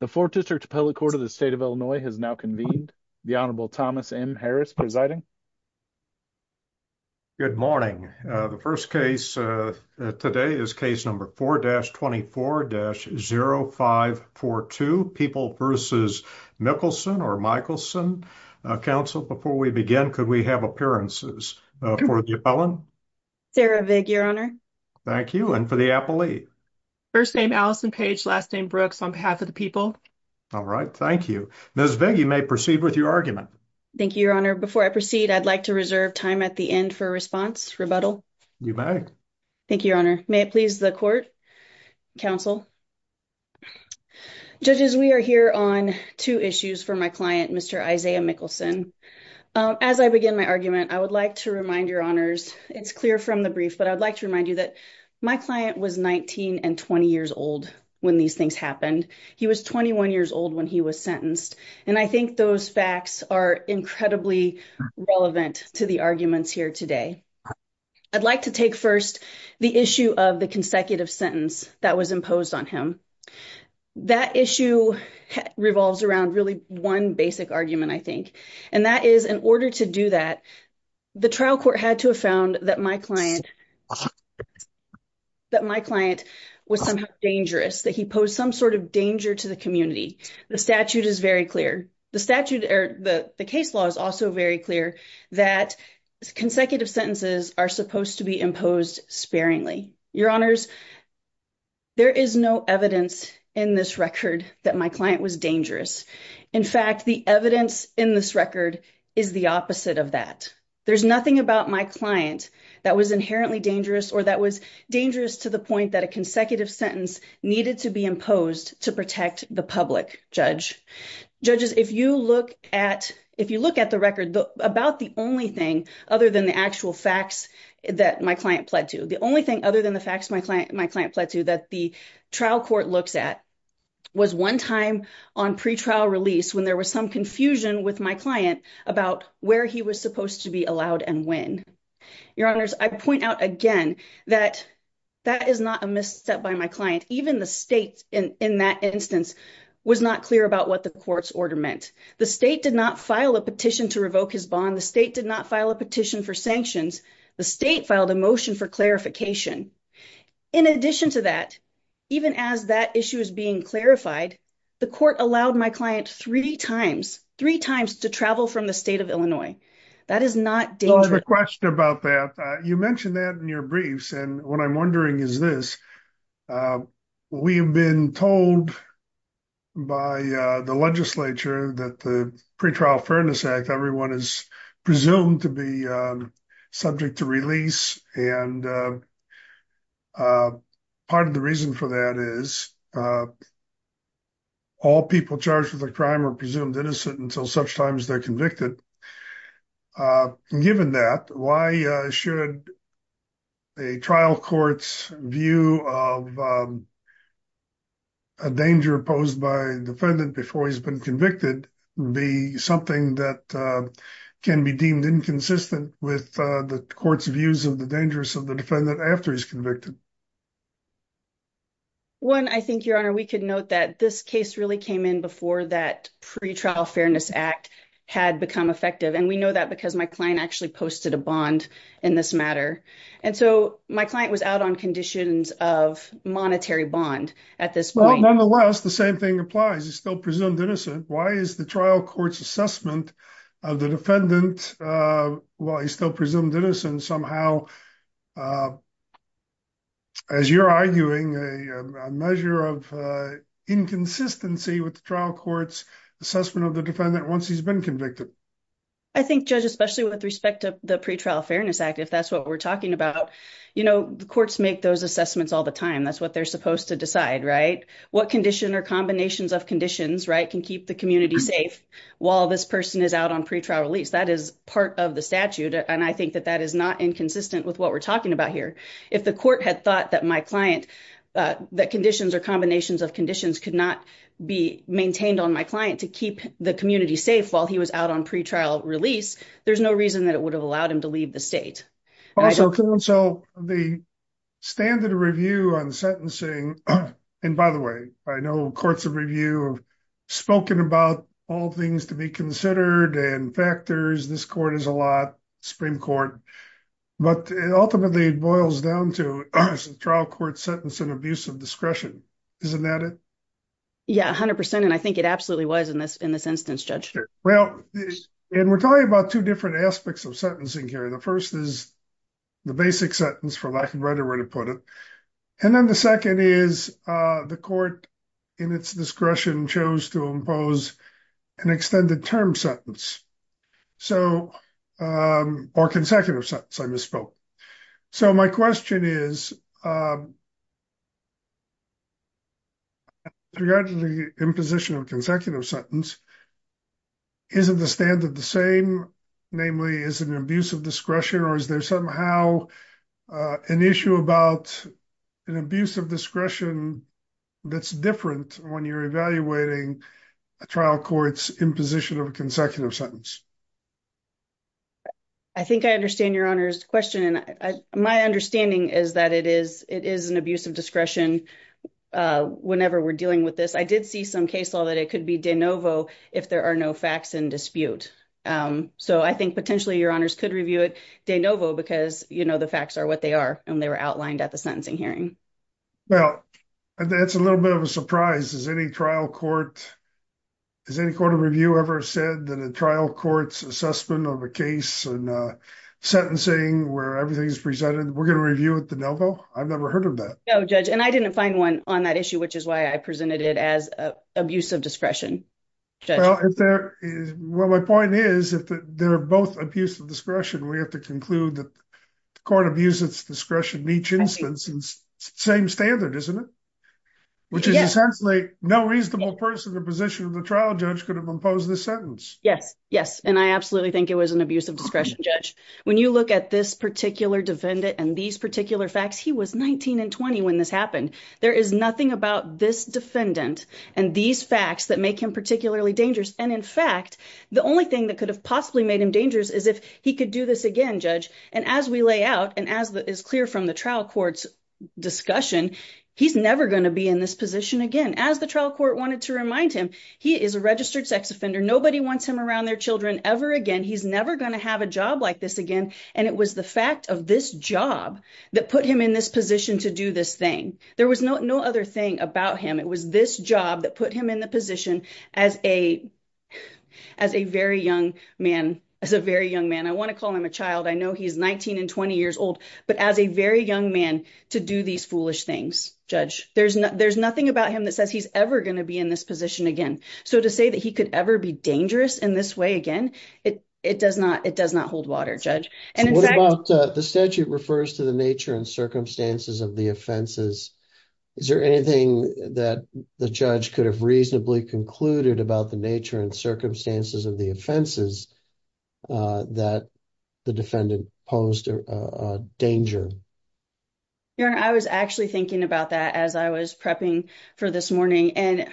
The 4th District Appellate Court of the State of Illinois has now convened. The Honorable Thomas M. Harris presiding. Good morning. The first case today is case number 4-24-0542, People v. Mikkelson or Mikkelson. Counsel, before we begin, could we have appearances for the appellant? Sarah Vig, your honor. Thank you. And for the appellee? First name Allison Page, last name Brooks, on behalf of the people. All right. Thank you. Ms. Vig, you may proceed with your argument. Thank you, your honor. Before I proceed, I'd like to reserve time at the end for a response, rebuttal. You may. Thank you, your honor. May it please the court, counsel. Judges, we are here on two issues for my client, Mr. Isaiah Mikkelson. As I begin my argument, I would like to remind your honors, it's clear from the brief, but I'd like to take first the issue of the consecutive sentence that was imposed on him. That issue revolves around really one basic argument, I think, and that is, in order to do that, the trial court had to have found that my client was somehow dangerous, that he posed some sort of danger to the community. The statute is very clear. The statute or the case law is also very clear that consecutive sentences are supposed to be imposed sparingly. Your honors, there is no evidence in this record that my client was dangerous. In fact, the evidence in this record is the opposite of that. There's nothing about my client that was inherently dangerous or that was dangerous to the point that a consecutive sentence needed to be imposed to protect the public, judge. Judges, if you look at the record, about the only thing other than the actual facts that my client pled to, the only thing other than the facts my client pled to that the trial court looks at was one time on pretrial release when there was some confusion with my client about where he was supposed to be allowed and when. Your honors, I point out again that that is not a misstep by my client. Even the state in that instance was not clear about what the court's order meant. The state did not file a petition to revoke his bond. The state did not file a petition for sanctions. The state filed a motion for clarification. In addition to that, even as that issue is being clarified, the court allowed my client three times, three times to travel from the state of Illinois. That is not dangerous. A question about that. You mentioned that in your briefs. What I'm wondering is this. We have been told by the legislature that the Pretrial Fairness Act, everyone is presumed to be subject to release. Part of the reason for that is all people charged with a crime are presumed innocent until such time as they're convicted. Given that, why should a trial court's view of a danger posed by a defendant before he's been convicted be something that can be deemed inconsistent with the court's views of the dangers of the defendant after he's convicted? One, I think, Your Honor, we could note that this case really came in before that Pretrial Fairness Act had become effective. We know that because my client actually posted a bond in this matter. My client was out on conditions of monetary bond at this point. Nonetheless, the same thing applies. He's still presumed innocent. Why is the trial court's assessment of the defendant, while he's still presumed innocent, somehow, as you're arguing, a measure of inconsistency with the trial court's assessment of the defendant once he's been convicted? I think, Judge, especially with respect to the Pretrial Fairness Act, if that's what we're talking about, you know, the courts make those assessments all the time. That's what they're supposed to decide, right? What condition or combinations of conditions, right, can keep the community safe while this person is out on pretrial release? That is part of the statute, and I think that that is not inconsistent with what we're talking about here. If the court had thought that my client, that conditions or combinations of conditions could be maintained on my client to keep the community safe while he was out on pretrial release, there's no reason that it would have allowed him to leave the state. Also, the standard review on sentencing, and by the way, I know courts of review have spoken about all things to be considered and factors. This court is a lot, Supreme Court, but it ultimately boils down to trial court sentencing abuse of discretion. Isn't that it? Yeah, 100%, and I think it absolutely was in this instance, Judge. Well, and we're talking about two different aspects of sentencing here. The first is the basic sentence, for lack of a better way to put it, and then the second is the court, in its discretion, chose to impose an extended term sentence, or consecutive sentence, I misspoke. So my question is, with regard to the imposition of consecutive sentence, isn't the standard the same, namely, is an abuse of discretion, or is there somehow an issue about an abuse of discretion that's different when you're evaluating a trial court's imposition of a consecutive sentence? I think I understand Your Honor's question, and my understanding is that it is an abuse of discretion whenever we're dealing with this. I did see some case law that it could be de novo if there are no facts in dispute. So I think potentially Your Honors could review it de novo, because the facts are what they are, and they were outlined at the sentencing hearing. Well, that's a little bit of a surprise. Any trial court, has any court of review ever said that a trial court's assessment of a case and sentencing, where everything is presented, we're going to review it de novo? I've never heard of that. No, Judge, and I didn't find one on that issue, which is why I presented it as abuse of discretion. Well, my point is that they're both abuse of discretion. We have to conclude that the court abuses discretion in each instance. It's the same standard, isn't it? Which is essentially no reasonable person in the position of the trial judge could have imposed this sentence. Yes, yes, and I absolutely think it was an abuse of discretion, Judge. When you look at this particular defendant and these particular facts, he was 19 and 20 when this happened. There is nothing about this defendant and these facts that make him particularly dangerous. And in fact, the only thing that could have possibly made him dangerous is if he could do this again, Judge. And as we lay out, and as is clear from the trial court's discussion, he's never going to be in this position again. As the trial court wanted to remind him, he is a registered sex offender. Nobody wants him around their children ever again. He's never going to have a job like this again. And it was the fact of this job that put him in this position to do this thing. There was no other thing about him. It was this job that put him in the position as a very young man, as a very young man. I want to call him a child. I know he's 19 and 20 years old, but as a very young man to do these foolish things, Judge. There's nothing about him that says he's ever going to be in this position again. So to say that he could ever be dangerous in this way again, it does not hold water, And what about the statute refers to the nature and circumstances of the offenses. Is there anything that the judge could have reasonably concluded about the nature and circumstances of the offenses that the defendant posed a danger? Aaron, I was actually thinking about that as I was prepping for this morning and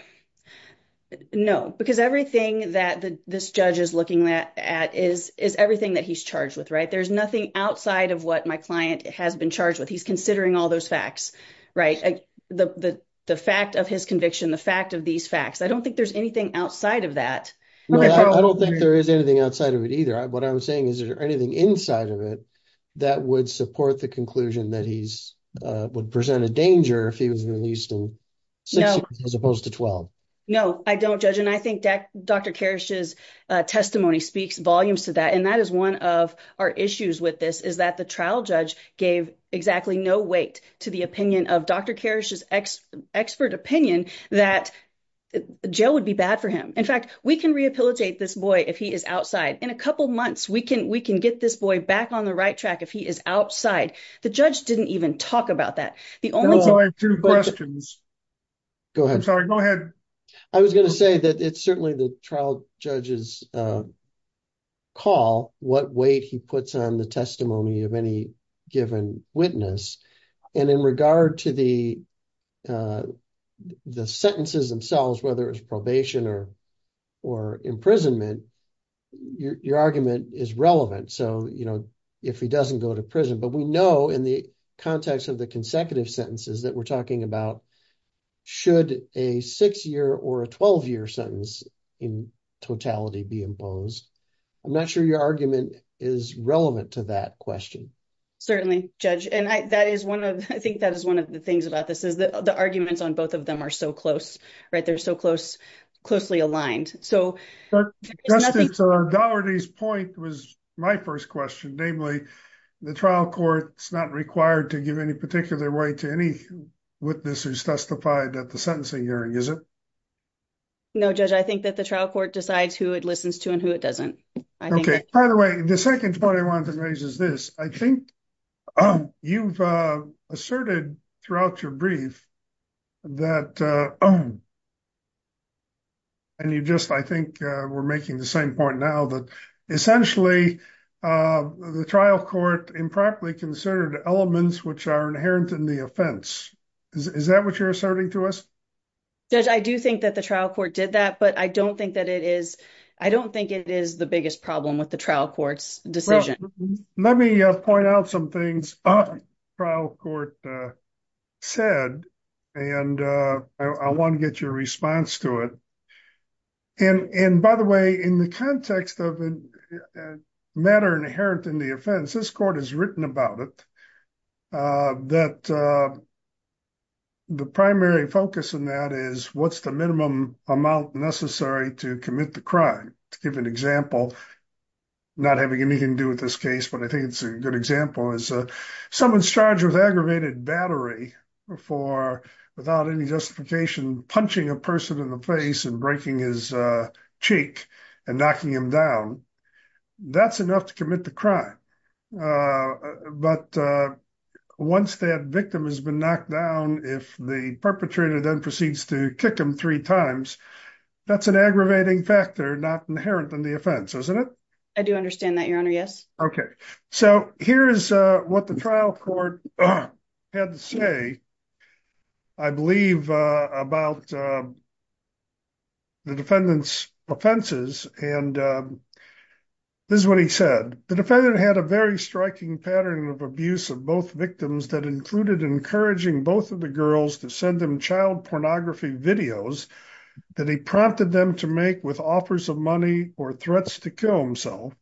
no, because everything that this judge is looking at is everything that he's charged with, right? There's nothing outside of what my client has been charged with. He's considering all those facts, right? The fact of his conviction, the fact of these facts. I don't think there's anything outside of that. I don't think there is anything outside of it either. What I'm saying is, is there anything inside of it that would support the conclusion that he's would present a danger if he was released in six years as opposed to 12? No, I don't judge. And I think Dr. Karish's testimony speaks volumes to that. And that is one of our issues with this is that the trial judge gave exactly no weight to the opinion of Dr. Karish's expert opinion that jail would be bad for him. In fact, we can rehabilitate this boy if he is outside. In a couple of months, we can get this boy back on the right track if he is outside. The judge didn't even talk about that. The only thing- I have two questions. Go ahead. I'm sorry, go ahead. I was going to say that it's certainly the trial judge's call what weight he puts on the testimony of any given witness. And in regard to the sentences themselves, whether it's probation or imprisonment, your argument is relevant. So, you know, if he doesn't go to prison, but we know in the context of the consecutive sentences that we're talking about, should a six-year or a 12-year sentence in totality be imposed? I'm not sure your argument is relevant to that question. Certainly, Judge. And I think that is one of the things about this is that the arguments on both of them are so close, right? They're so closely aligned. So- Doherty's point was my first question. Namely, the trial court is not required to give any particular weight to any witness who's testified at the sentencing hearing, is it? No, Judge. I think that the trial court decides who it listens to and who it doesn't. By the way, the second point I wanted to raise is this. I think you've asserted throughout your brief that, and you just, I think, we're making the same point now, that essentially the trial court impractically considered elements which are inherent in the offense. Is that what you're asserting to us? Judge, I do think that the trial court did that, but I don't think that it is, I don't think it is the biggest problem with the trial court's decision. Let me point out some things the trial court said, and I want to get your response to it. And by the way, in the context of a matter inherent in the offense, this court has written about it, that the primary focus in that is what's the minimum amount necessary to commit the crime? To give an example, not having anything to do with this case, but I think it's a good example, is someone's charged with aggravated battery for, without any justification, punching a person in the face and breaking his cheek and knocking him down. That's enough to commit the crime. But once that victim has been knocked down, if the perpetrator then proceeds to kick him three times, that's an aggravating factor not inherent in the offense, isn't it? I do understand that, Your Honor, yes. Okay. So here is what the trial court had to say, I believe, about the defendant's offenses, and this is what he said. The defendant had a very striking pattern of abuse of both victims that included encouraging both of the girls to send him child pornography videos that he prompted them to make with offers of money or threats to kill himself.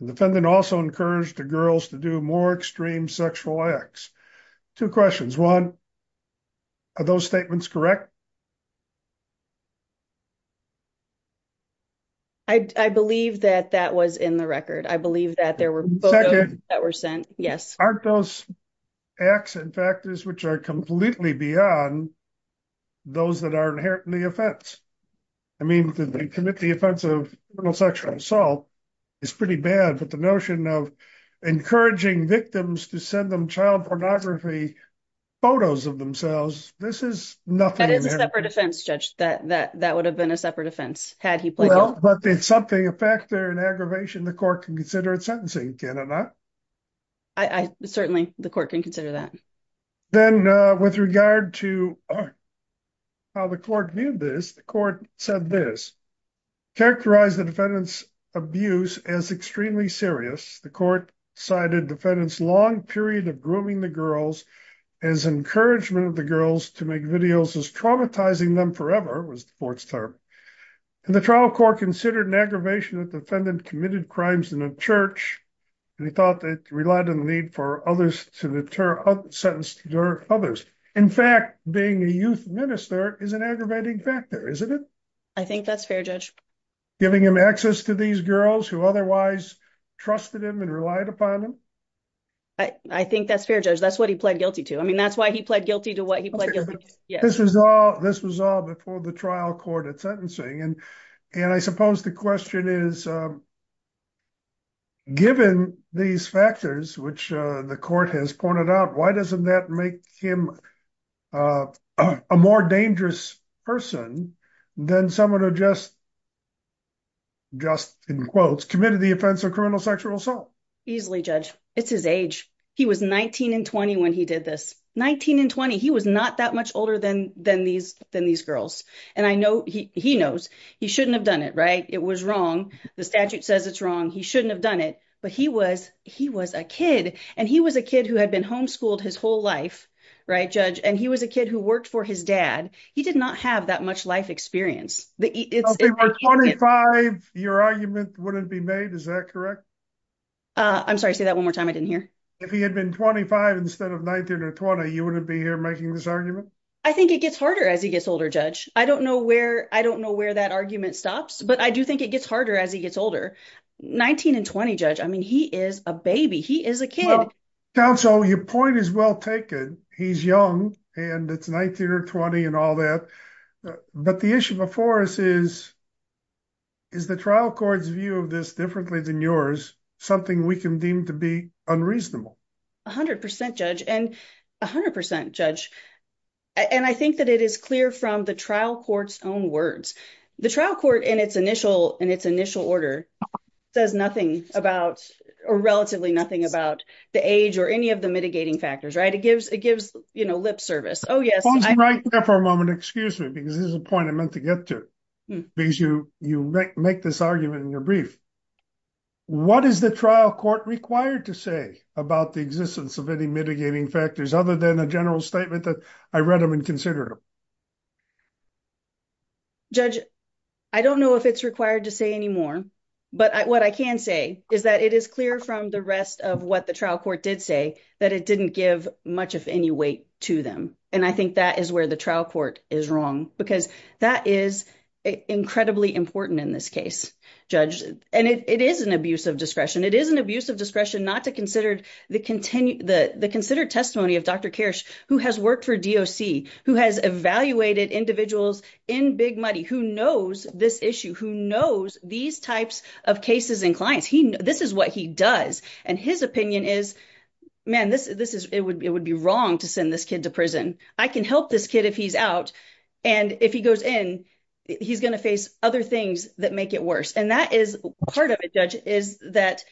The defendant also encouraged the girls to do more extreme sexual acts. Two questions. One, are those statements correct? I believe that that was in the record. I believe that there were both of those that were sent, yes. Aren't those acts and factors which are completely beyond those that are inherent in the offense? I mean, to commit the offense of criminal sexual assault is pretty bad, but the notion of encouraging victims to send them child pornography photos of themselves, this is nothing. That is a separate offense, Judge, that would have been a separate offense had he played it. Well, but it's something, a factor in aggravation the court can consider in sentencing, can it not? I certainly, the court can consider that. Then with regard to how the court viewed this, the court said this. Characterize the defendant's abuse as extremely serious. The court cited defendant's long period of grooming the girls as encouragement of the girls to make videos as traumatizing them forever, was the court's term. And the trial court considered an aggravation that defendant committed crimes in a church, and he thought that relied on the need for others to deter, sentenced others. In fact, being a youth minister is an aggravating factor, isn't it? I think that's fair, Judge. Giving him access to these girls who otherwise trusted him and relied upon him? I think that's fair, Judge. That's what he pled guilty to. I mean, that's why he pled guilty to what he pled guilty to. Yeah, this was all before the trial court at sentencing. And I suppose the question is, given these factors, which the court has pointed out, why doesn't that make him a more dangerous person than someone who just, just in quotes, committed the offense of criminal sexual assault? Easily, Judge. It's his age. He was 19 and 20 when he did this. 19 and 20. He was not that much older than these girls. And I know, he knows, he shouldn't have done it, right? It was wrong. The statute says it's wrong. He shouldn't have done it. But he was, he was a kid. And he was a kid who had been homeschooled his whole life, right, Judge? And he was a kid who worked for his dad. He did not have that much life experience. If he were 25, your argument wouldn't be made, is that correct? I'm sorry, say that one more time. I didn't hear. If he had been 25 instead of 19 or 20, you wouldn't be here making this argument? I think it gets harder as he gets older, Judge. I don't know where that argument stops. But I do think it gets harder as he gets older. 19 and 20, Judge. I mean, he is a baby. He is a kid. Counsel, your point is well taken. He's young and it's 19 or 20 and all that. But the issue before us is, is the trial court's view of this differently than yours, something we can deem to be unreasonable? 100%, Judge. And 100%, Judge. And I think that it is clear from the trial court's own words. The trial court in its initial order says nothing about or relatively nothing about the age or any of the mitigating factors, right? It gives lip service. Oh, yes. Pause right there for a moment. Excuse me, because this is a point I meant to get to. Because you make this argument in your brief. What is the trial court required to say about the existence of any mitigating factors other than a general statement that I read them and considered them? Judge, I don't know if it's required to say any more, but what I can say is that it is clear from the rest of what the trial court did say that it didn't give much, if any, weight to them. And I think that is where the trial court is wrong, because that is incredibly important in this case, Judge. And it is an abuse of discretion. It is an abuse of discretion not to consider the considered testimony of Dr. Kirsch, who has worked for DOC, who has evaluated individuals in big money, who knows this issue, who knows these types of cases and clients. This is what he does. And his opinion is, man, it would be wrong to send this kid to prison. I can help this kid if he's out. And if he goes in, he's going to face other things that make it worse. And that is part of it, Judge, is that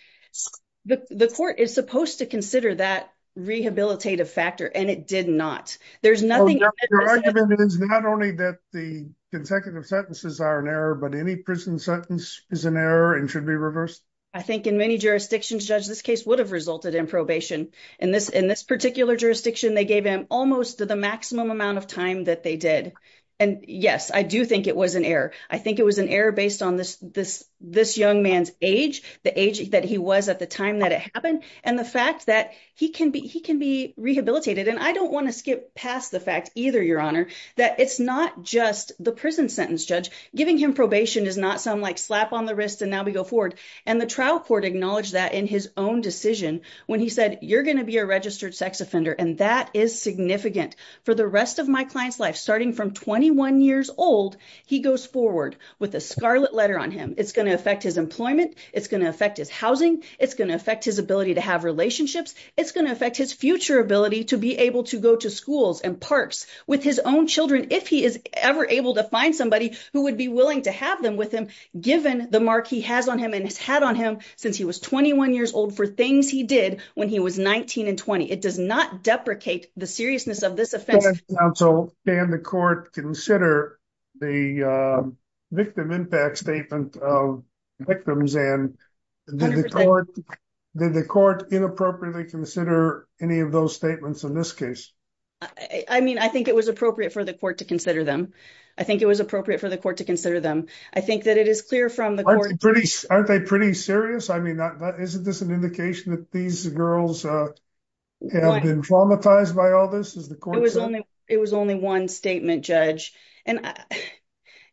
the court is supposed to consider that rehabilitative factor, and it did not. There's nothing— So your argument is not only that the consecutive sentences are an error, but any prison sentence is an error and should be reversed? I think in many jurisdictions, Judge, this case would have resulted in probation. In this particular jurisdiction, they gave him almost the maximum amount of time that they did. And yes, I do think it was an error. I think it was an error based on this young man's age, the age that he was at the time that it happened, and the fact that he can be rehabilitated. And I don't want to skip past the fact either, Your Honor, that it's not just the prison sentence, Judge. Giving him probation does not sound like slap on the wrist and now we go forward. And the trial court acknowledged that in his own decision when he said, you're going to be a registered sex offender. And that is significant. For the rest of my client's life, starting from 21 years old, he goes forward with a scarlet letter on him. It's going to affect his employment. It's going to affect his housing. It's going to affect his ability to have relationships. It's going to affect his future ability to be able to go to schools and parks with his own children if he is ever able to find somebody who would be willing to have them with him, given the mark he has on him and has had on him since he was 21 years old for things he did when he was 19 and 20. It does not deprecate the seriousness of this offense. So can the court consider the victim impact statement of victims and did the court inappropriately consider any of those statements in this case? I mean, I think it was appropriate for the court to consider them. I think it was appropriate for the court to consider them. I think that it is clear from the court. Aren't they pretty serious? Isn't this an indication that these girls have been traumatized by all this? It was only one statement, Judge.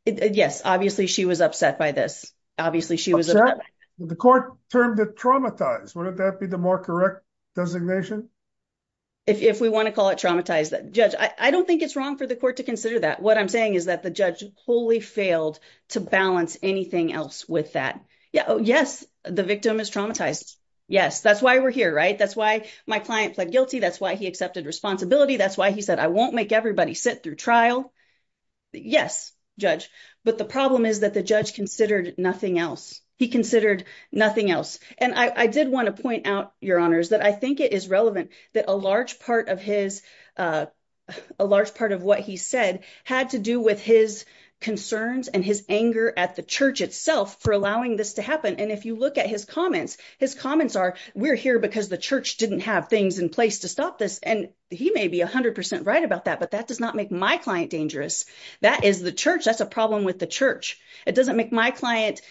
Yes, obviously, she was upset by this. Obviously, she was upset. The court termed it traumatized. Wouldn't that be the more correct designation? If we want to call it traumatized. Judge, I don't think it's wrong for the court to consider that. What I'm saying is that the judge wholly failed to balance anything else with that. Yes, the victim is traumatized. Yes, that's why we're here, right? That's why my client pled guilty. That's why he accepted responsibility. That's why he said, I won't make everybody sit through trial. Yes, Judge. But the problem is that the judge considered nothing else. He considered nothing else. And I did want to point out, Your Honors, that I think it is relevant that a large part of what he said had to do with his concerns and his anger at the church itself for allowing this to happen. And if you look at his comments, his comments are, we're here because the church didn't have things in place to stop this. And he may be 100% right about that, but that does not make my client dangerous. That is the church. That's a problem with the church. It doesn't make my client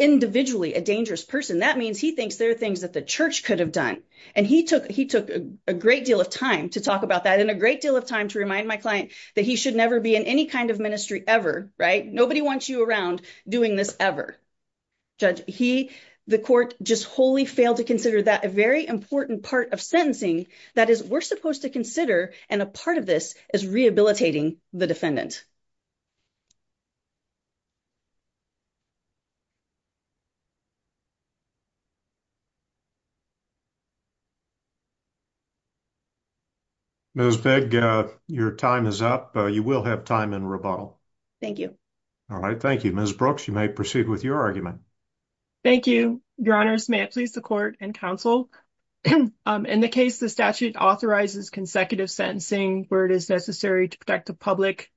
individually a dangerous person. That means he thinks there are things that the church could have done. And he took a great deal of time to talk about that and a great deal of time to remind my client that he should never be in any kind of ministry ever, right? Nobody wants you around doing this ever. Judge, he, the court, just wholly failed to consider that a very important part of sentencing. That is, we're supposed to consider, and a part of this is rehabilitating the defendant. Ms. Bigg, your time is up. You will have time in rebuttal. Thank you. All right. Thank you, Ms. Brooks. You may proceed with your argument. Thank you, your honors. May it please the court and counsel. In the case, the statute authorizes consecutive sentencing where it is necessary to protect the public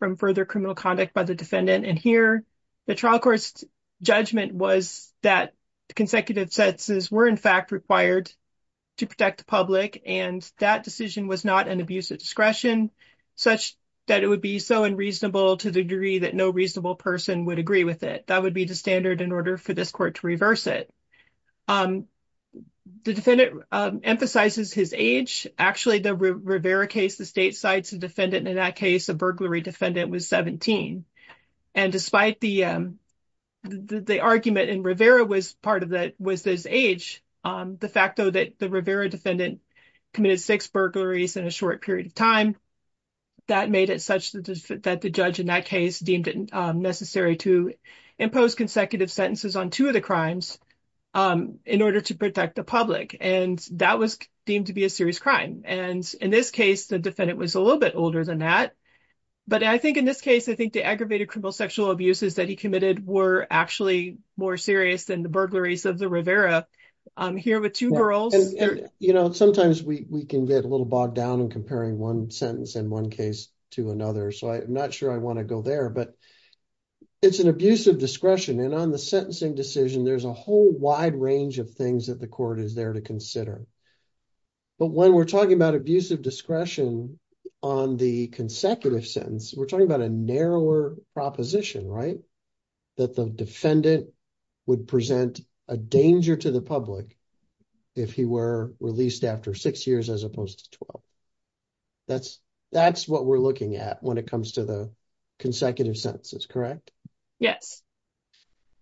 from further criminal conduct by the defendant. And here, the trial court's judgment was that consecutive sentences were, in fact, required to protect the public. And that decision was not an abuse of discretion such that it would be so unreasonable to the degree that no reasonable person would agree with it. That would be the standard in order for this court to reverse it. The defendant emphasizes his age. Actually, the Rivera case, the state cites a defendant. In that case, a burglary defendant was 17. And despite the argument in Rivera was this age, the fact, though, that the Rivera defendant committed six burglaries in a short period of time, that made it such that the judge in that case deemed it necessary to impose consecutive sentences on two of the crimes in order to protect the public. And that was deemed to be a serious crime. And in this case, the defendant was a little bit older than that. But I think in this case, I think the aggravated criminal sexual abuses that he committed were actually more serious than the burglaries of the Rivera here with two girls. You know, sometimes we can get a little bogged down in comparing one sentence in one case to another. So I'm not sure I want to go there. But it's an abuse of discretion. And on the sentencing decision, there's a whole wide range of things that the court is there to consider. But when we're talking about abuse of discretion on the consecutive sentence, we're talking about a narrower proposition, right? That the defendant would present a danger to the public if he were released after six years as opposed to 12. That's what we're looking at when it comes to the consecutive sentences, correct? Yes.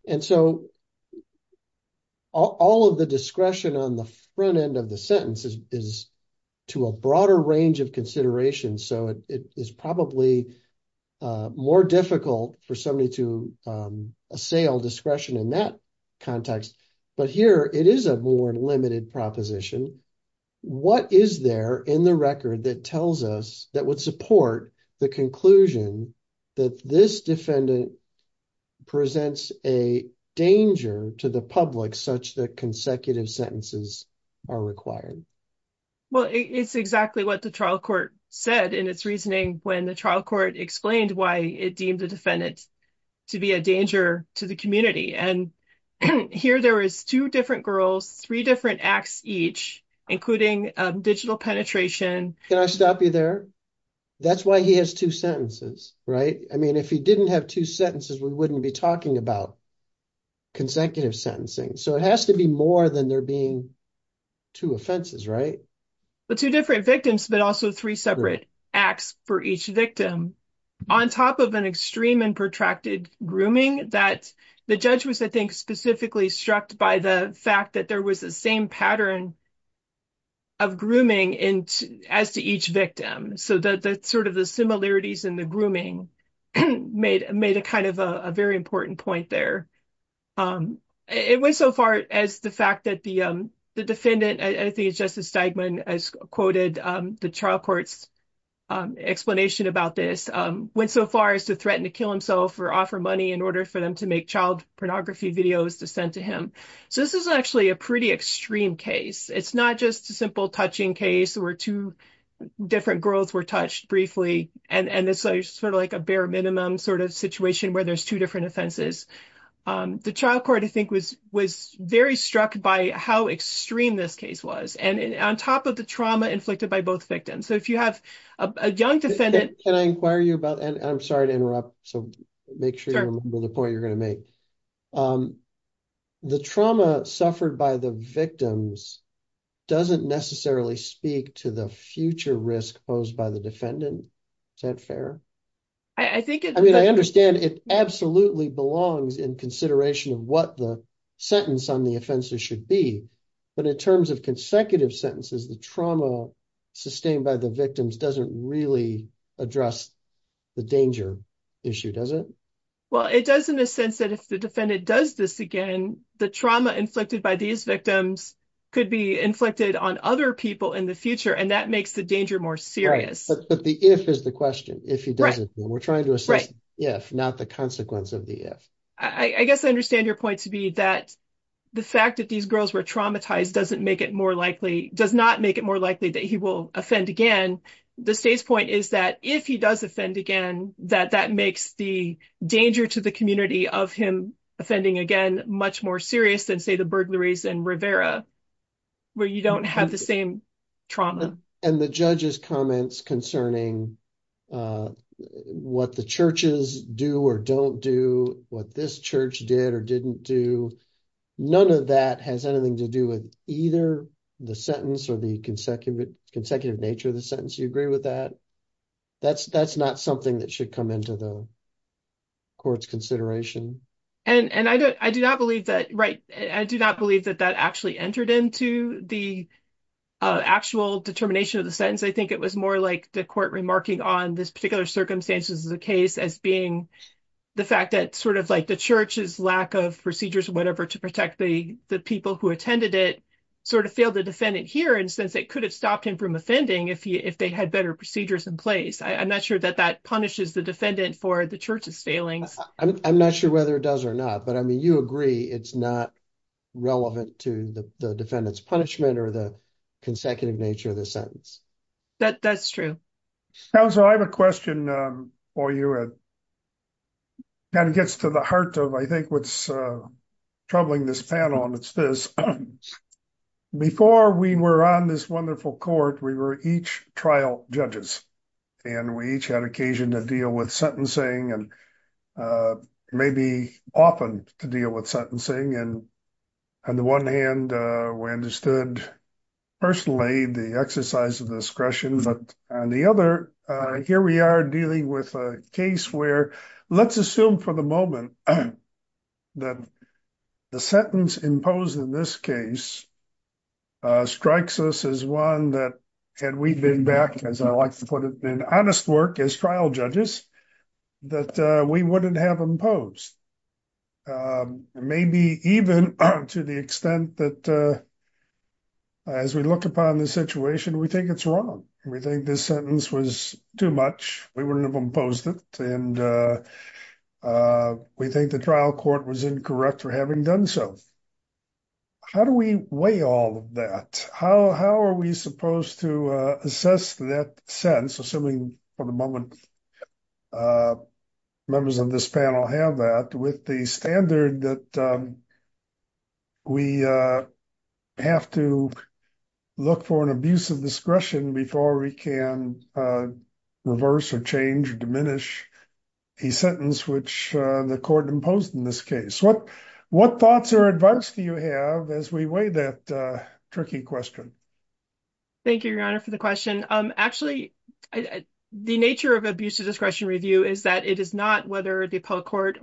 And so all of the discretion on the front end of the sentence is to a broader range of considerations. So it is probably more difficult for somebody to assail discretion in that context. But here it is a more limited proposition. What is there in the record that tells us that would support the conclusion that this defendant presents a danger to the public such that consecutive sentences are required? Well, it's exactly what the trial court said in its reasoning when the trial court explained why it deemed the defendant to be a danger to the community. And here there is two different girls, three different acts each, including digital penetration. Can I stop you there? That's why he has two sentences, right? I mean, if he didn't have two sentences, we wouldn't be talking about consecutive sentencing. So it has to be more than there being two offenses, right? But two different victims, but also three separate acts for each victim on top of an extreme and protracted grooming that the judge was, I think, specifically struck by the fact that there was the same pattern of grooming as to each victim. So that sort of the similarities in the grooming made a kind of a very important point there. It went so far as the fact that the defendant, I think it's Justice Steigman, as quoted the trial court's explanation about this, went so far as to threaten to kill himself or offer money in order for them to make child pornography videos to send to him. So this is actually a pretty extreme case. It's not just a simple touching case where two different girls were touched briefly. And it's sort of like a bare minimum sort of situation where there's two different offenses. The trial court, I think, was very struck by how extreme this case was. And on top of the trauma inflicted by both victims. So if you have a young defendant- Can I inquire you about, and I'm sorry to interrupt. So make sure you remember the point you're going to make. The trauma suffered by the victims doesn't necessarily speak to the future risk posed by the defendant. Is that fair? I mean, I understand it absolutely belongs in consideration of what the sentence on the offense should be. But in terms of consecutive sentences, the trauma sustained by the victims doesn't really address the danger issue, does it? Well, it does in a sense that if the defendant does this again, the trauma inflicted by these victims could be inflicted on other people in the future. And that makes the danger more serious. But the if is the question. If he does it, we're trying to assess if, not the consequence of the if. I guess I understand your point to be that the fact that these girls were traumatized doesn't make it more likely, does not make it more likely that he will offend again. The state's point is that if he does offend again, that that makes the danger to the community of him offending again, much more serious than, say, the burglaries in Rivera, where you don't have the same trauma. And the judge's comments concerning what the churches do or don't do, what this church did or didn't do, none of that has anything to do with either the sentence or the consecutive nature of the sentence. Do you agree with that? That's not something that should come into the court's consideration. And I do not believe that, right, I do not believe that that actually entered into the actual determination of the sentence. I think it was more like the court remarking on this particular circumstances of the case as being the fact that sort of like the church's lack of procedures, whatever, to protect the people who attended it sort of failed the defendant here. And since it could have stopped him from offending if they had better procedures in place. I'm not sure that that punishes the defendant for the church's failings. I'm not sure whether it does or not, but I mean, you agree it's not relevant to the defendant's punishment or the consecutive nature of the sentence. That's true. Counselor, I have a question for you that kind of gets to the heart of, I think, what's troubling this panel, and it's this. Before we were on this wonderful court, we were each trial judges, and we each had occasion to deal with sentencing and maybe often to deal with sentencing. And on the one hand, we understood personally the exercise of discretion, but on the other, here we are dealing with a case where let's assume for the moment that the sentence imposed in this case strikes us as one that had we been back, as I like to put it, in honest work as trial judges, that we wouldn't have imposed. Maybe even to the extent that as we look upon the situation, we think it's wrong. We think this sentence was too much. We wouldn't have imposed it, and we think the trial court was incorrect for having done so. How do we weigh all of that? How are we supposed to assess that sense, assuming for the moment members of this panel have that, with the standard that we have to look for an abuse of discretion before we can reverse or change or diminish a sentence which the court imposed in this case? What thoughts or advice do you have as we weigh that tricky question? Thank you, Your Honor, for the question. Actually, the nature of abuse of discretion review is that it is not whether the appellate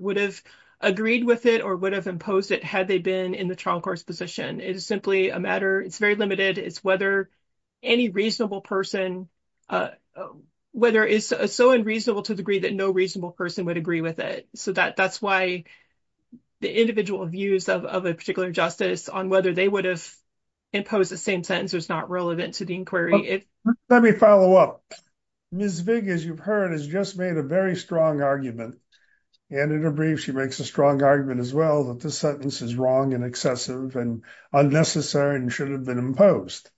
would have agreed with it or would have imposed it had they been in the trial court's position. It is simply a matter. It's very limited. It's whether any reasonable person, whether it's so unreasonable to the degree that no reasonable person would agree with it. So that's why the individual views of a particular justice on whether they would have imposed the same sentence is not relevant to the inquiry. Let me follow up. Ms. Vig, as you've heard, has just made a very strong argument. And in her brief, she makes a strong argument as well that this sentence is wrong and excessive and unnecessary and should have been imposed.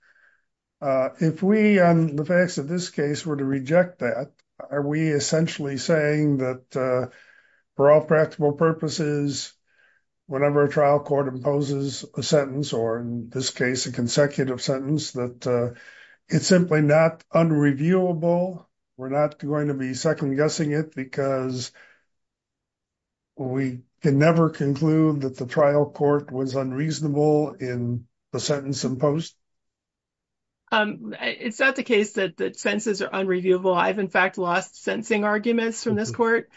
If we, on the facts of this case, were to reject that, are we essentially saying that for all practical purposes, whenever a trial court imposes a sentence, or in this case, a consecutive sentence, that it's simply not unreviewable? We're not going to be second-guessing it because we can never conclude that the trial court was unreasonable in the sentence imposed? It's not the case that the sentences are unreviewable. I've, in fact, lost sentencing arguments from this court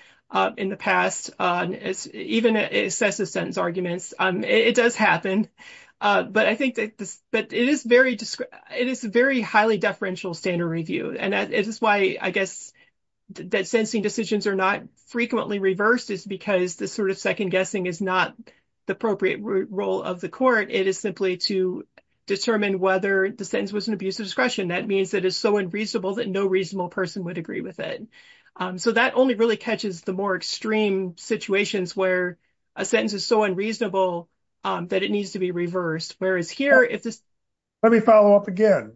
in the past, even excessive sentence arguments. It does happen. But I think that it is a very highly deferential standard review. And this is why, I guess, that sentencing decisions are not frequently reversed, is because this sort of second-guessing is not the appropriate role of the court. It is simply to determine whether the sentence was an abuse of discretion. That means that it's so unreasonable that no reasonable person would agree with it. So that only really catches the more extreme situations where a sentence is so unreasonable that it needs to be reversed. Whereas here, if this— Let me follow up again.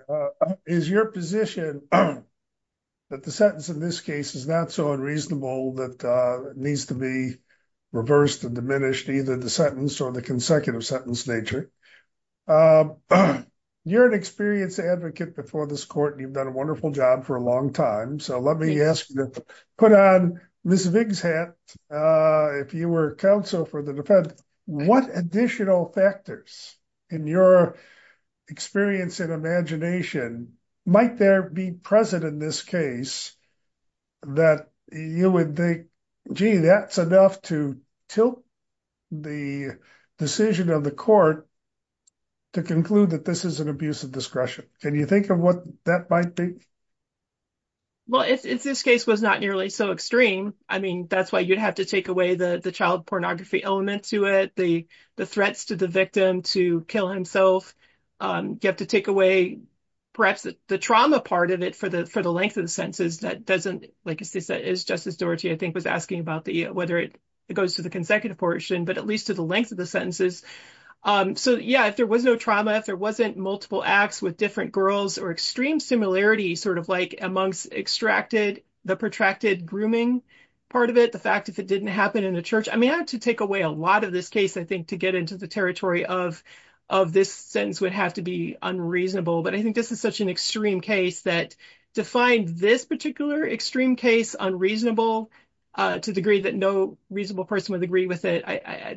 Is your position that the sentence in this case is not so unreasonable that it needs to be reversed and diminished, either the sentence or the consecutive sentence nature? You're an experienced advocate before this court, and you've done a wonderful job for a long time. So let me ask you to put on Ms. Vig's hat if you were counsel for the defense. What additional factors in your experience and imagination might there be present in this case that you would think, gee, that's enough to tilt the decision of the court to conclude that this is an abuse of discretion? Can you think of what that might be? Well, if this case was not nearly so extreme, I mean, that's why you'd have to take away the child pornography element to it, the threats to the victim to kill himself. You have to take away perhaps the trauma part of it for the length of the sentences. That doesn't— Like Justice Doherty, I think, was asking about whether it goes to the consecutive portion, but at least to the length of the sentences. So yeah, if there was no trauma, if there wasn't multiple acts with different girls or extreme similarities sort of like amongst extracted, the protracted grooming part of it, the fact if it didn't happen in a church. I mean, I have to take away a lot of this case, I think, to get into the territory of this sentence would have to be unreasonable. But I think this is such an extreme case that to find this particular extreme case unreasonable to the degree that no reasonable person would agree with it,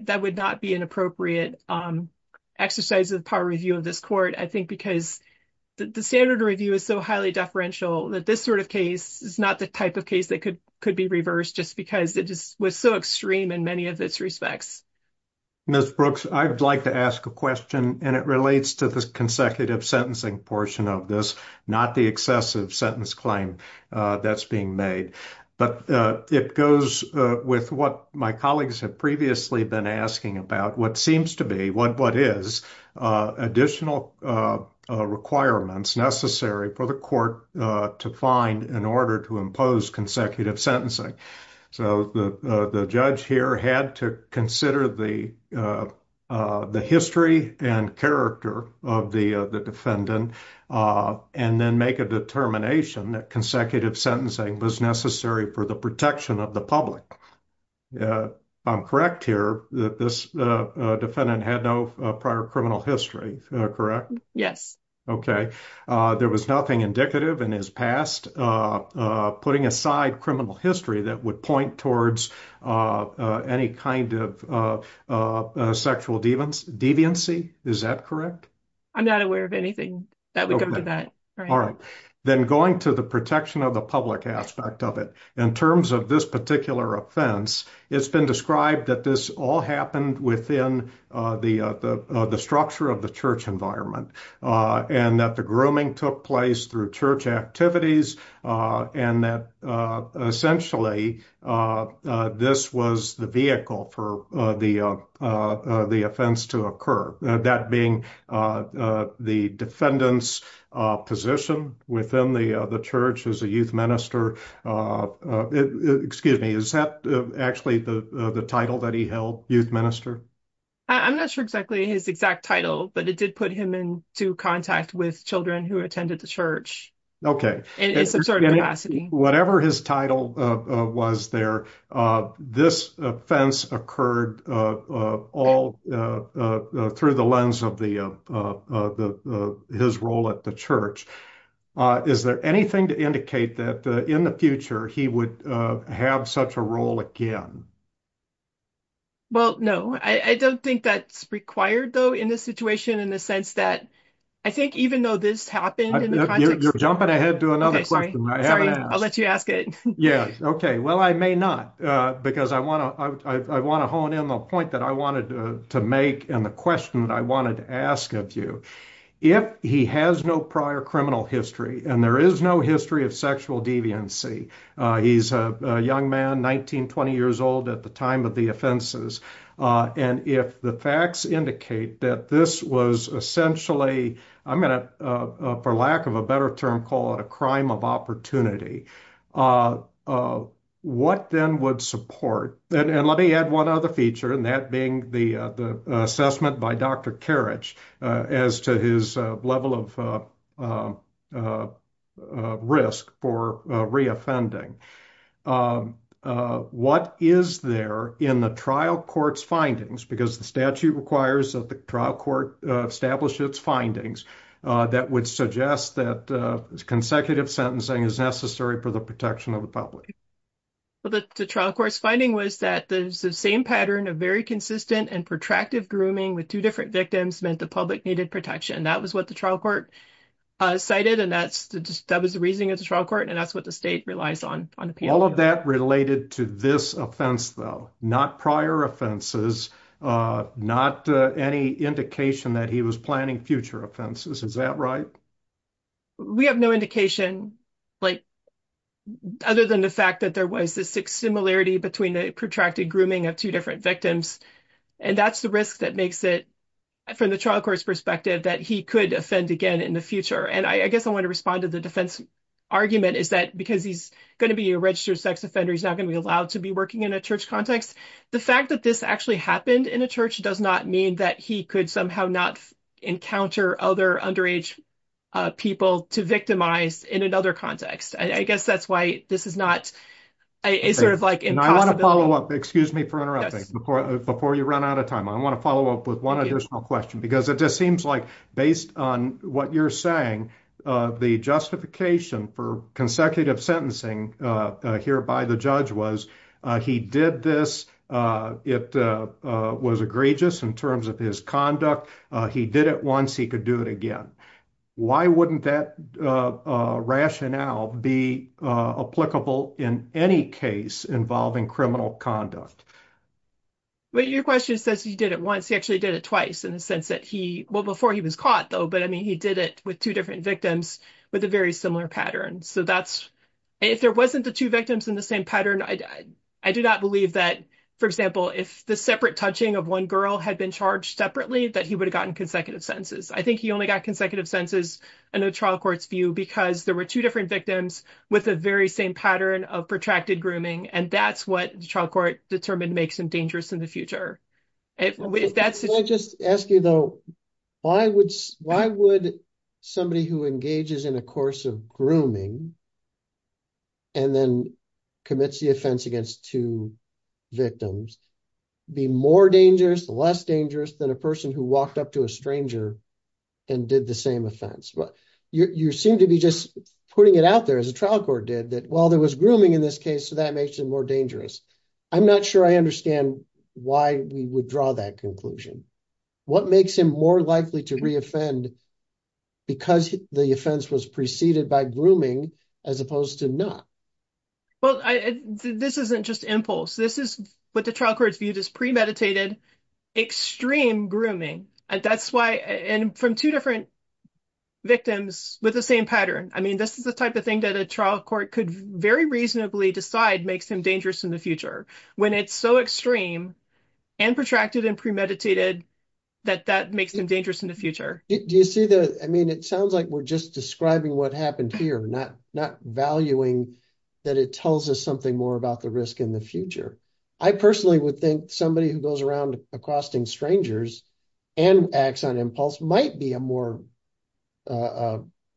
that would not be an appropriate exercise of the power review of this court. I think because the standard review is so highly deferential that this sort of case is not the type of case that could be reversed just because it just was so extreme in many of its respects. Ms. Brooks, I'd like to ask a question, and it relates to the consecutive sentencing portion of this, not the excessive sentence claim that's being made. But it goes with what my colleagues have previously been asking about, what seems to be, what is additional requirements necessary for the court to find in order to impose consecutive sentencing. So the judge here had to consider the history and character of the defendant and then make a determination that consecutive sentencing was necessary for the protection of the public. I'm correct here that this defendant had no prior criminal history, correct? Yes. Okay. There was nothing indicative in his past putting aside criminal history that would point towards any kind of sexual deviancy, is that correct? I'm not aware of anything that would go to that. All right. Then going to the protection of the public aspect of it, in terms of this particular offense, it's been described that this all happened within the structure of the church environment, and that the grooming took place through church activities, and that essentially this was the vehicle for the offense to occur. That being the defendant's position within the church as a youth minister. Excuse me, is that actually the title that he held, youth minister? I'm not sure exactly his exact title, but it did put him into contact with children who attended the church. Okay. Whatever his title was there, this offense occurred all through the lens of his role at the church. Is there anything to indicate that in the future he would have such a role again? Well, no, I don't think that's required though in this situation, in the sense that I think even though this happened in the context... You're jumping ahead to another question I haven't asked. Sorry, I'll let you ask it. Yeah, okay. Well, I may not, because I want to hone in the point that I wanted to make, and the question that I wanted to ask of you. If he has no prior criminal history, and there is no history of sexual deviancy, he's a young man, 19, 20 years old at the time of the offenses. And if the facts indicate that this was essentially, I'm going to, for lack of a better term, call it a crime of opportunity, what then would support... And let me add one other feature, and that being the assessment by Dr. Karich as to his level of risk for re-offending. What is there in the trial court's findings, because the statute requires that the trial court establish its findings, that would suggest that consecutive sentencing is necessary for the protection of the public? Well, the trial court's finding was that the same pattern of very consistent and protracted grooming with two different victims meant the public needed protection. That was what the trial court cited, and that was the reasoning of the trial court, and that's what the state relies on. All of that related to this offense, though, not prior offenses, not any indication that he was planning future offenses. Is that right? We have no indication, other than the fact that there was this similarity between the protracted grooming of two different victims, and that's the risk that makes it, from the trial court's perspective, that he could offend again in the future. And I guess I want to respond to the defense argument, is that because he's going to be a registered sex offender, he's not going to be allowed to be working in a church context. The fact that this actually happened in a church does not mean that he could somehow not encounter other underage people to victimize in another context. I guess that's why this is not, it's sort of like impossibility. I want to follow up, excuse me for interrupting, before you run out of time. I want to follow up with one additional question, because it just seems like, based on what you're saying, the justification for consecutive sentencing here by the judge was, he did this, it was egregious in terms of his conduct, he did it once, he could do it again. Why wouldn't that rationale be applicable in any case involving criminal conduct? Well, your question says he did it once, he actually did it twice, in the sense that he, well, before he was caught though, but I mean, he did it with two different victims with a very similar pattern. So that's, if there wasn't the two victims in the same pattern, I do not believe that, for example, if the separate touching of one girl had been charged separately, that he would have gotten consecutive sentences. I think he only got consecutive sentences in the trial court's view, because there were two different victims with the very same pattern of protracted grooming, and that's what the trial court determined to make some dangerous in the future. Can I just ask you though, why would somebody who engages in a course of grooming and then commits the offense against two victims be more dangerous, less dangerous than a person who walked up to a stranger and did the same offense? You seem to be just putting it out there as a trial court did that, well, there was grooming in this case, so that makes it more dangerous. I'm not sure I understand why we would draw that conclusion. What makes him more likely to re-offend because the offense was preceded by grooming as opposed to not? Well, this isn't just impulse. This is what the trial court's viewed as premeditated extreme grooming. That's why, and from two different victims with the same pattern. I mean, this is the type of thing that a trial court could very reasonably decide makes him dangerous in the future, when it's so extreme and protracted and premeditated that that makes them dangerous in the future. Do you see that? I mean, it sounds like we're just describing what happened here, not valuing that it tells us something more about the risk in the future. I personally would think somebody who goes around accosting strangers and acts on impulse might be a more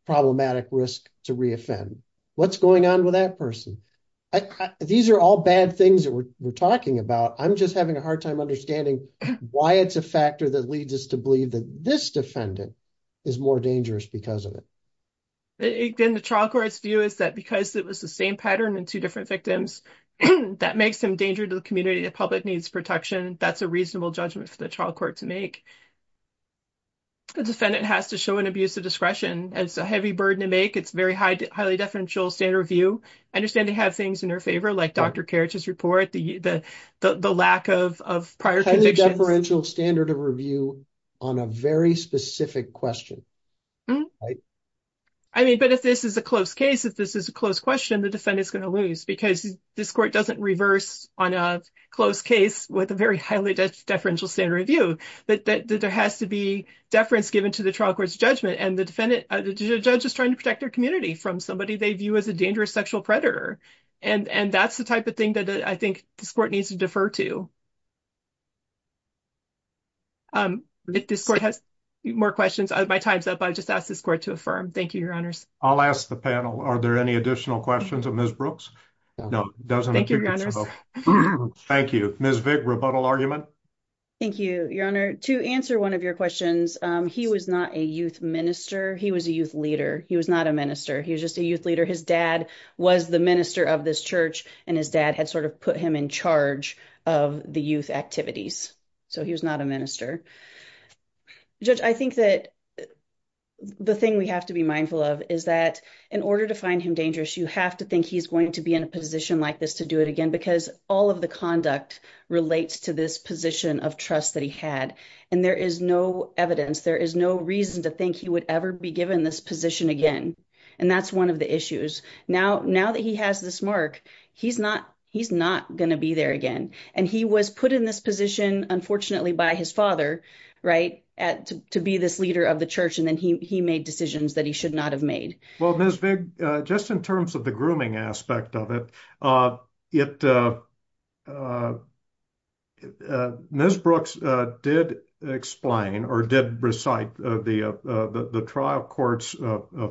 problematic risk to re-offend. What's going on with that person? These are all bad things that we're talking about. I'm just having a hard time understanding why it's a factor that leads us to believe that this defendant is more dangerous because of it. Again, the trial court's view is that because it was the same pattern in two different victims, that makes him danger to the community. The public needs protection. That's a reasonable judgment for the trial court to make. The defendant has to show an abuse of discretion. It's a heavy burden to make. It's a very highly deferential standard of review. I understand they have things in their favor, like Dr. Kerich's report, the lack of prior convictions. Highly deferential standard of review on a very specific question. I mean, but if this is a close case, if this is a close question, the defendant is going to lose because this court doesn't reverse on a close case with a very highly deferential standard of review. There has to be deference given to the trial court's judgment, and the judge is trying to protect their community from somebody they view as a dangerous sexual predator. That's the type of thing that I think this court needs to defer to. If this court has more questions, my time's up. I'll just ask this court to affirm. Thank you, your honors. I'll ask the panel, are there any additional questions of Ms. Brooks? No. Thank you, your honors. Thank you. Ms. Vick, rebuttal argument? Thank you, your honor. To answer one of your questions, he was not a youth minister. He was a youth leader. He was not a minister. He was just a youth leader. His dad was the minister of this church, and his dad had sort of put him in charge of the youth activities. So he was not a minister. Judge, I think that the thing we have to be mindful of is that in order to find him dangerous, you have to think he's going to be in a position like this to do it again, because all of the conduct relates to this position of trust that he had. And there is no evidence. There is no reason to think he would ever be given this position again. And that's one of the issues. Now that he has this mark, he's not going to be there again. And he was put in this position, unfortunately, by his father, to be this leader of the church, and then he made decisions that he should not have made. Well, Ms. Vig, just in terms of the grooming aspect of it, Ms. Brooks did explain or did recite the trial court's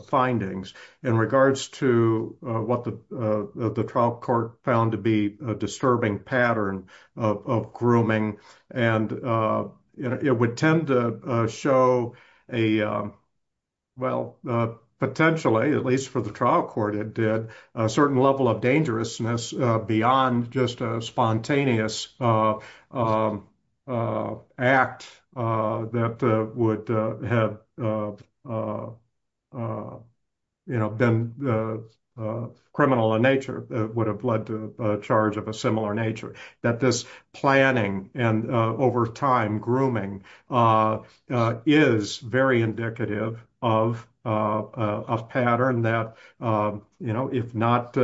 findings in regards to what the trial court found to be a disturbing pattern of grooming. And it would tend to show a, well, potentially, at least for the trial court it did, a certain level of dangerousness beyond just a spontaneous act that would have been criminal in nature, would have led to a charge of a similar nature, that this planning and over time grooming is very indicative of a pattern that, you know, if not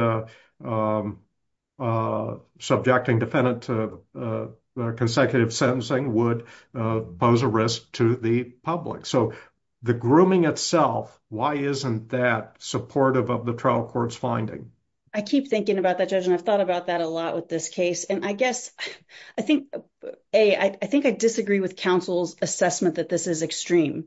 subjecting defendant to consecutive sentencing would pose a risk to the public. So the grooming itself, why isn't that supportive of the trial court's finding? I keep thinking about that, Judge, and I've thought about that a lot with this case. And I guess, I think, A, I think I disagree with counsel's assessment that this is extreme.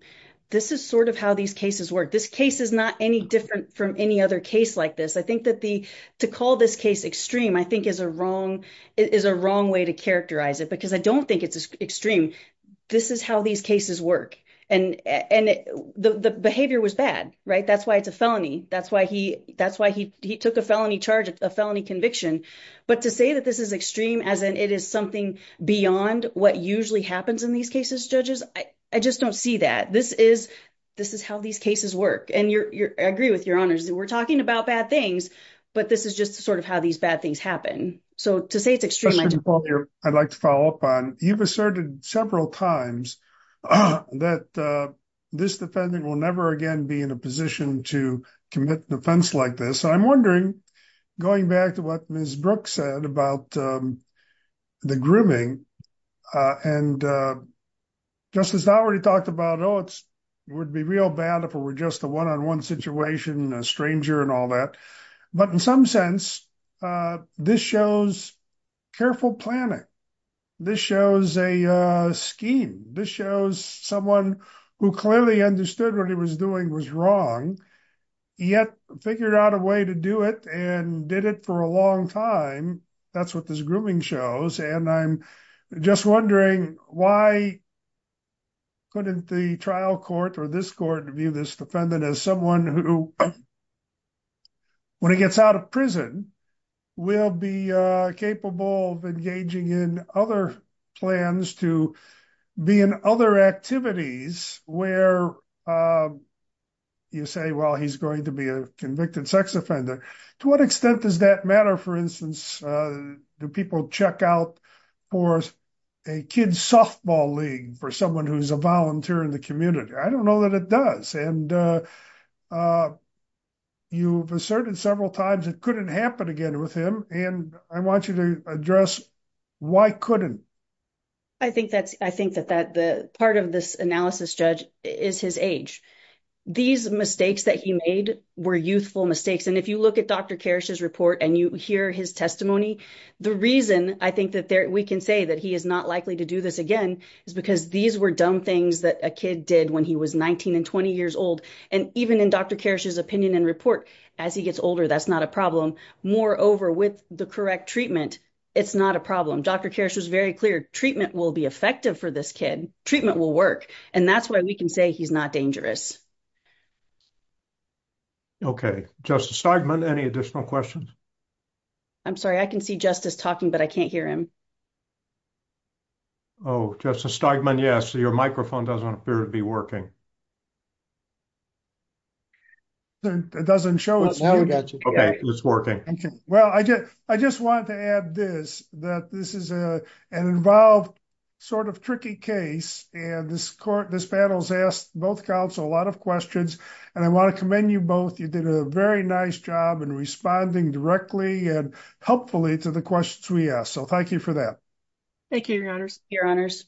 This is sort of how these cases work. This case is not any different from any other case like this. I think that the, to call this case extreme, I think is a wrong way to characterize it, because I don't think it's extreme. This is how these cases work. And the behavior was bad, right? That's why it's a felony. That's why he took a felony charge, a felony conviction. But to say that this is extreme, as in it is something beyond what usually happens in these cases, Judges, I just don't see that. This is, this is how these cases work. And you're, I agree with your honors. We're talking about bad things, but this is just sort of how these bad things happen. So to say it's extreme, I just- Mr. McCauley, I'd like to follow up on, you've asserted several times that this defendant will never again be in a position to commit an offense like this. I'm wondering, going back to what Ms. Brooks said about the grooming, and Justice Howard talked about, oh, it would be real bad if it were just a one-on-one situation, a stranger and all that. But in some sense, this shows careful planning. This shows a scheme. This shows someone who clearly understood what he was doing was wrong, yet figured out a way to do it and did it for a long time. That's what this grooming shows. And I'm just wondering why couldn't the trial court or this court view this defendant as someone who, when he gets out of prison, will be capable of engaging in other plans to be in other activities where you say, well, he's going to be a convicted sex offender. To what extent does that matter? For instance, do people check out for a kid's softball league for someone who's a volunteer in the community? I don't know that it does. And you've asserted several times it couldn't happen again with him. And I want you to address why couldn't. I think that part of this analysis, Judge, is his age. These mistakes that he made were youthful mistakes. And if you look at Dr. Karrasch's report and you hear his testimony, the reason I think that we can say that he is not likely to do this again is because these were dumb things that a kid did when he was 19 and 20 years old. And even in Dr. Karrasch's opinion and report, as he gets older, that's not a problem. Moreover, with the correct treatment, it's not a problem. Dr. Karrasch was very clear. Treatment will be effective for this kid. Treatment will work. And that's why we can say he's not dangerous. Okay. Justice Steigman, any additional questions? I'm sorry. I can see Justice talking, but I can't hear him. Oh, Justice Steigman, yes. Your microphone doesn't appear to be working. It doesn't show. Okay, it's working. Well, I just want to add this, that this is an involved sort of tricky case. And this panel has asked both counsel a lot of questions. And I want to commend you both. You did a very nice job in responding directly and helpfully to the questions we asked. So thank you for that. Thank you, Your Honors. Your Honors.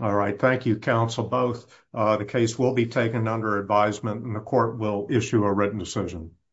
All right. Thank you, counsel, both. The case will be taken under advisement and the court will issue a written decision.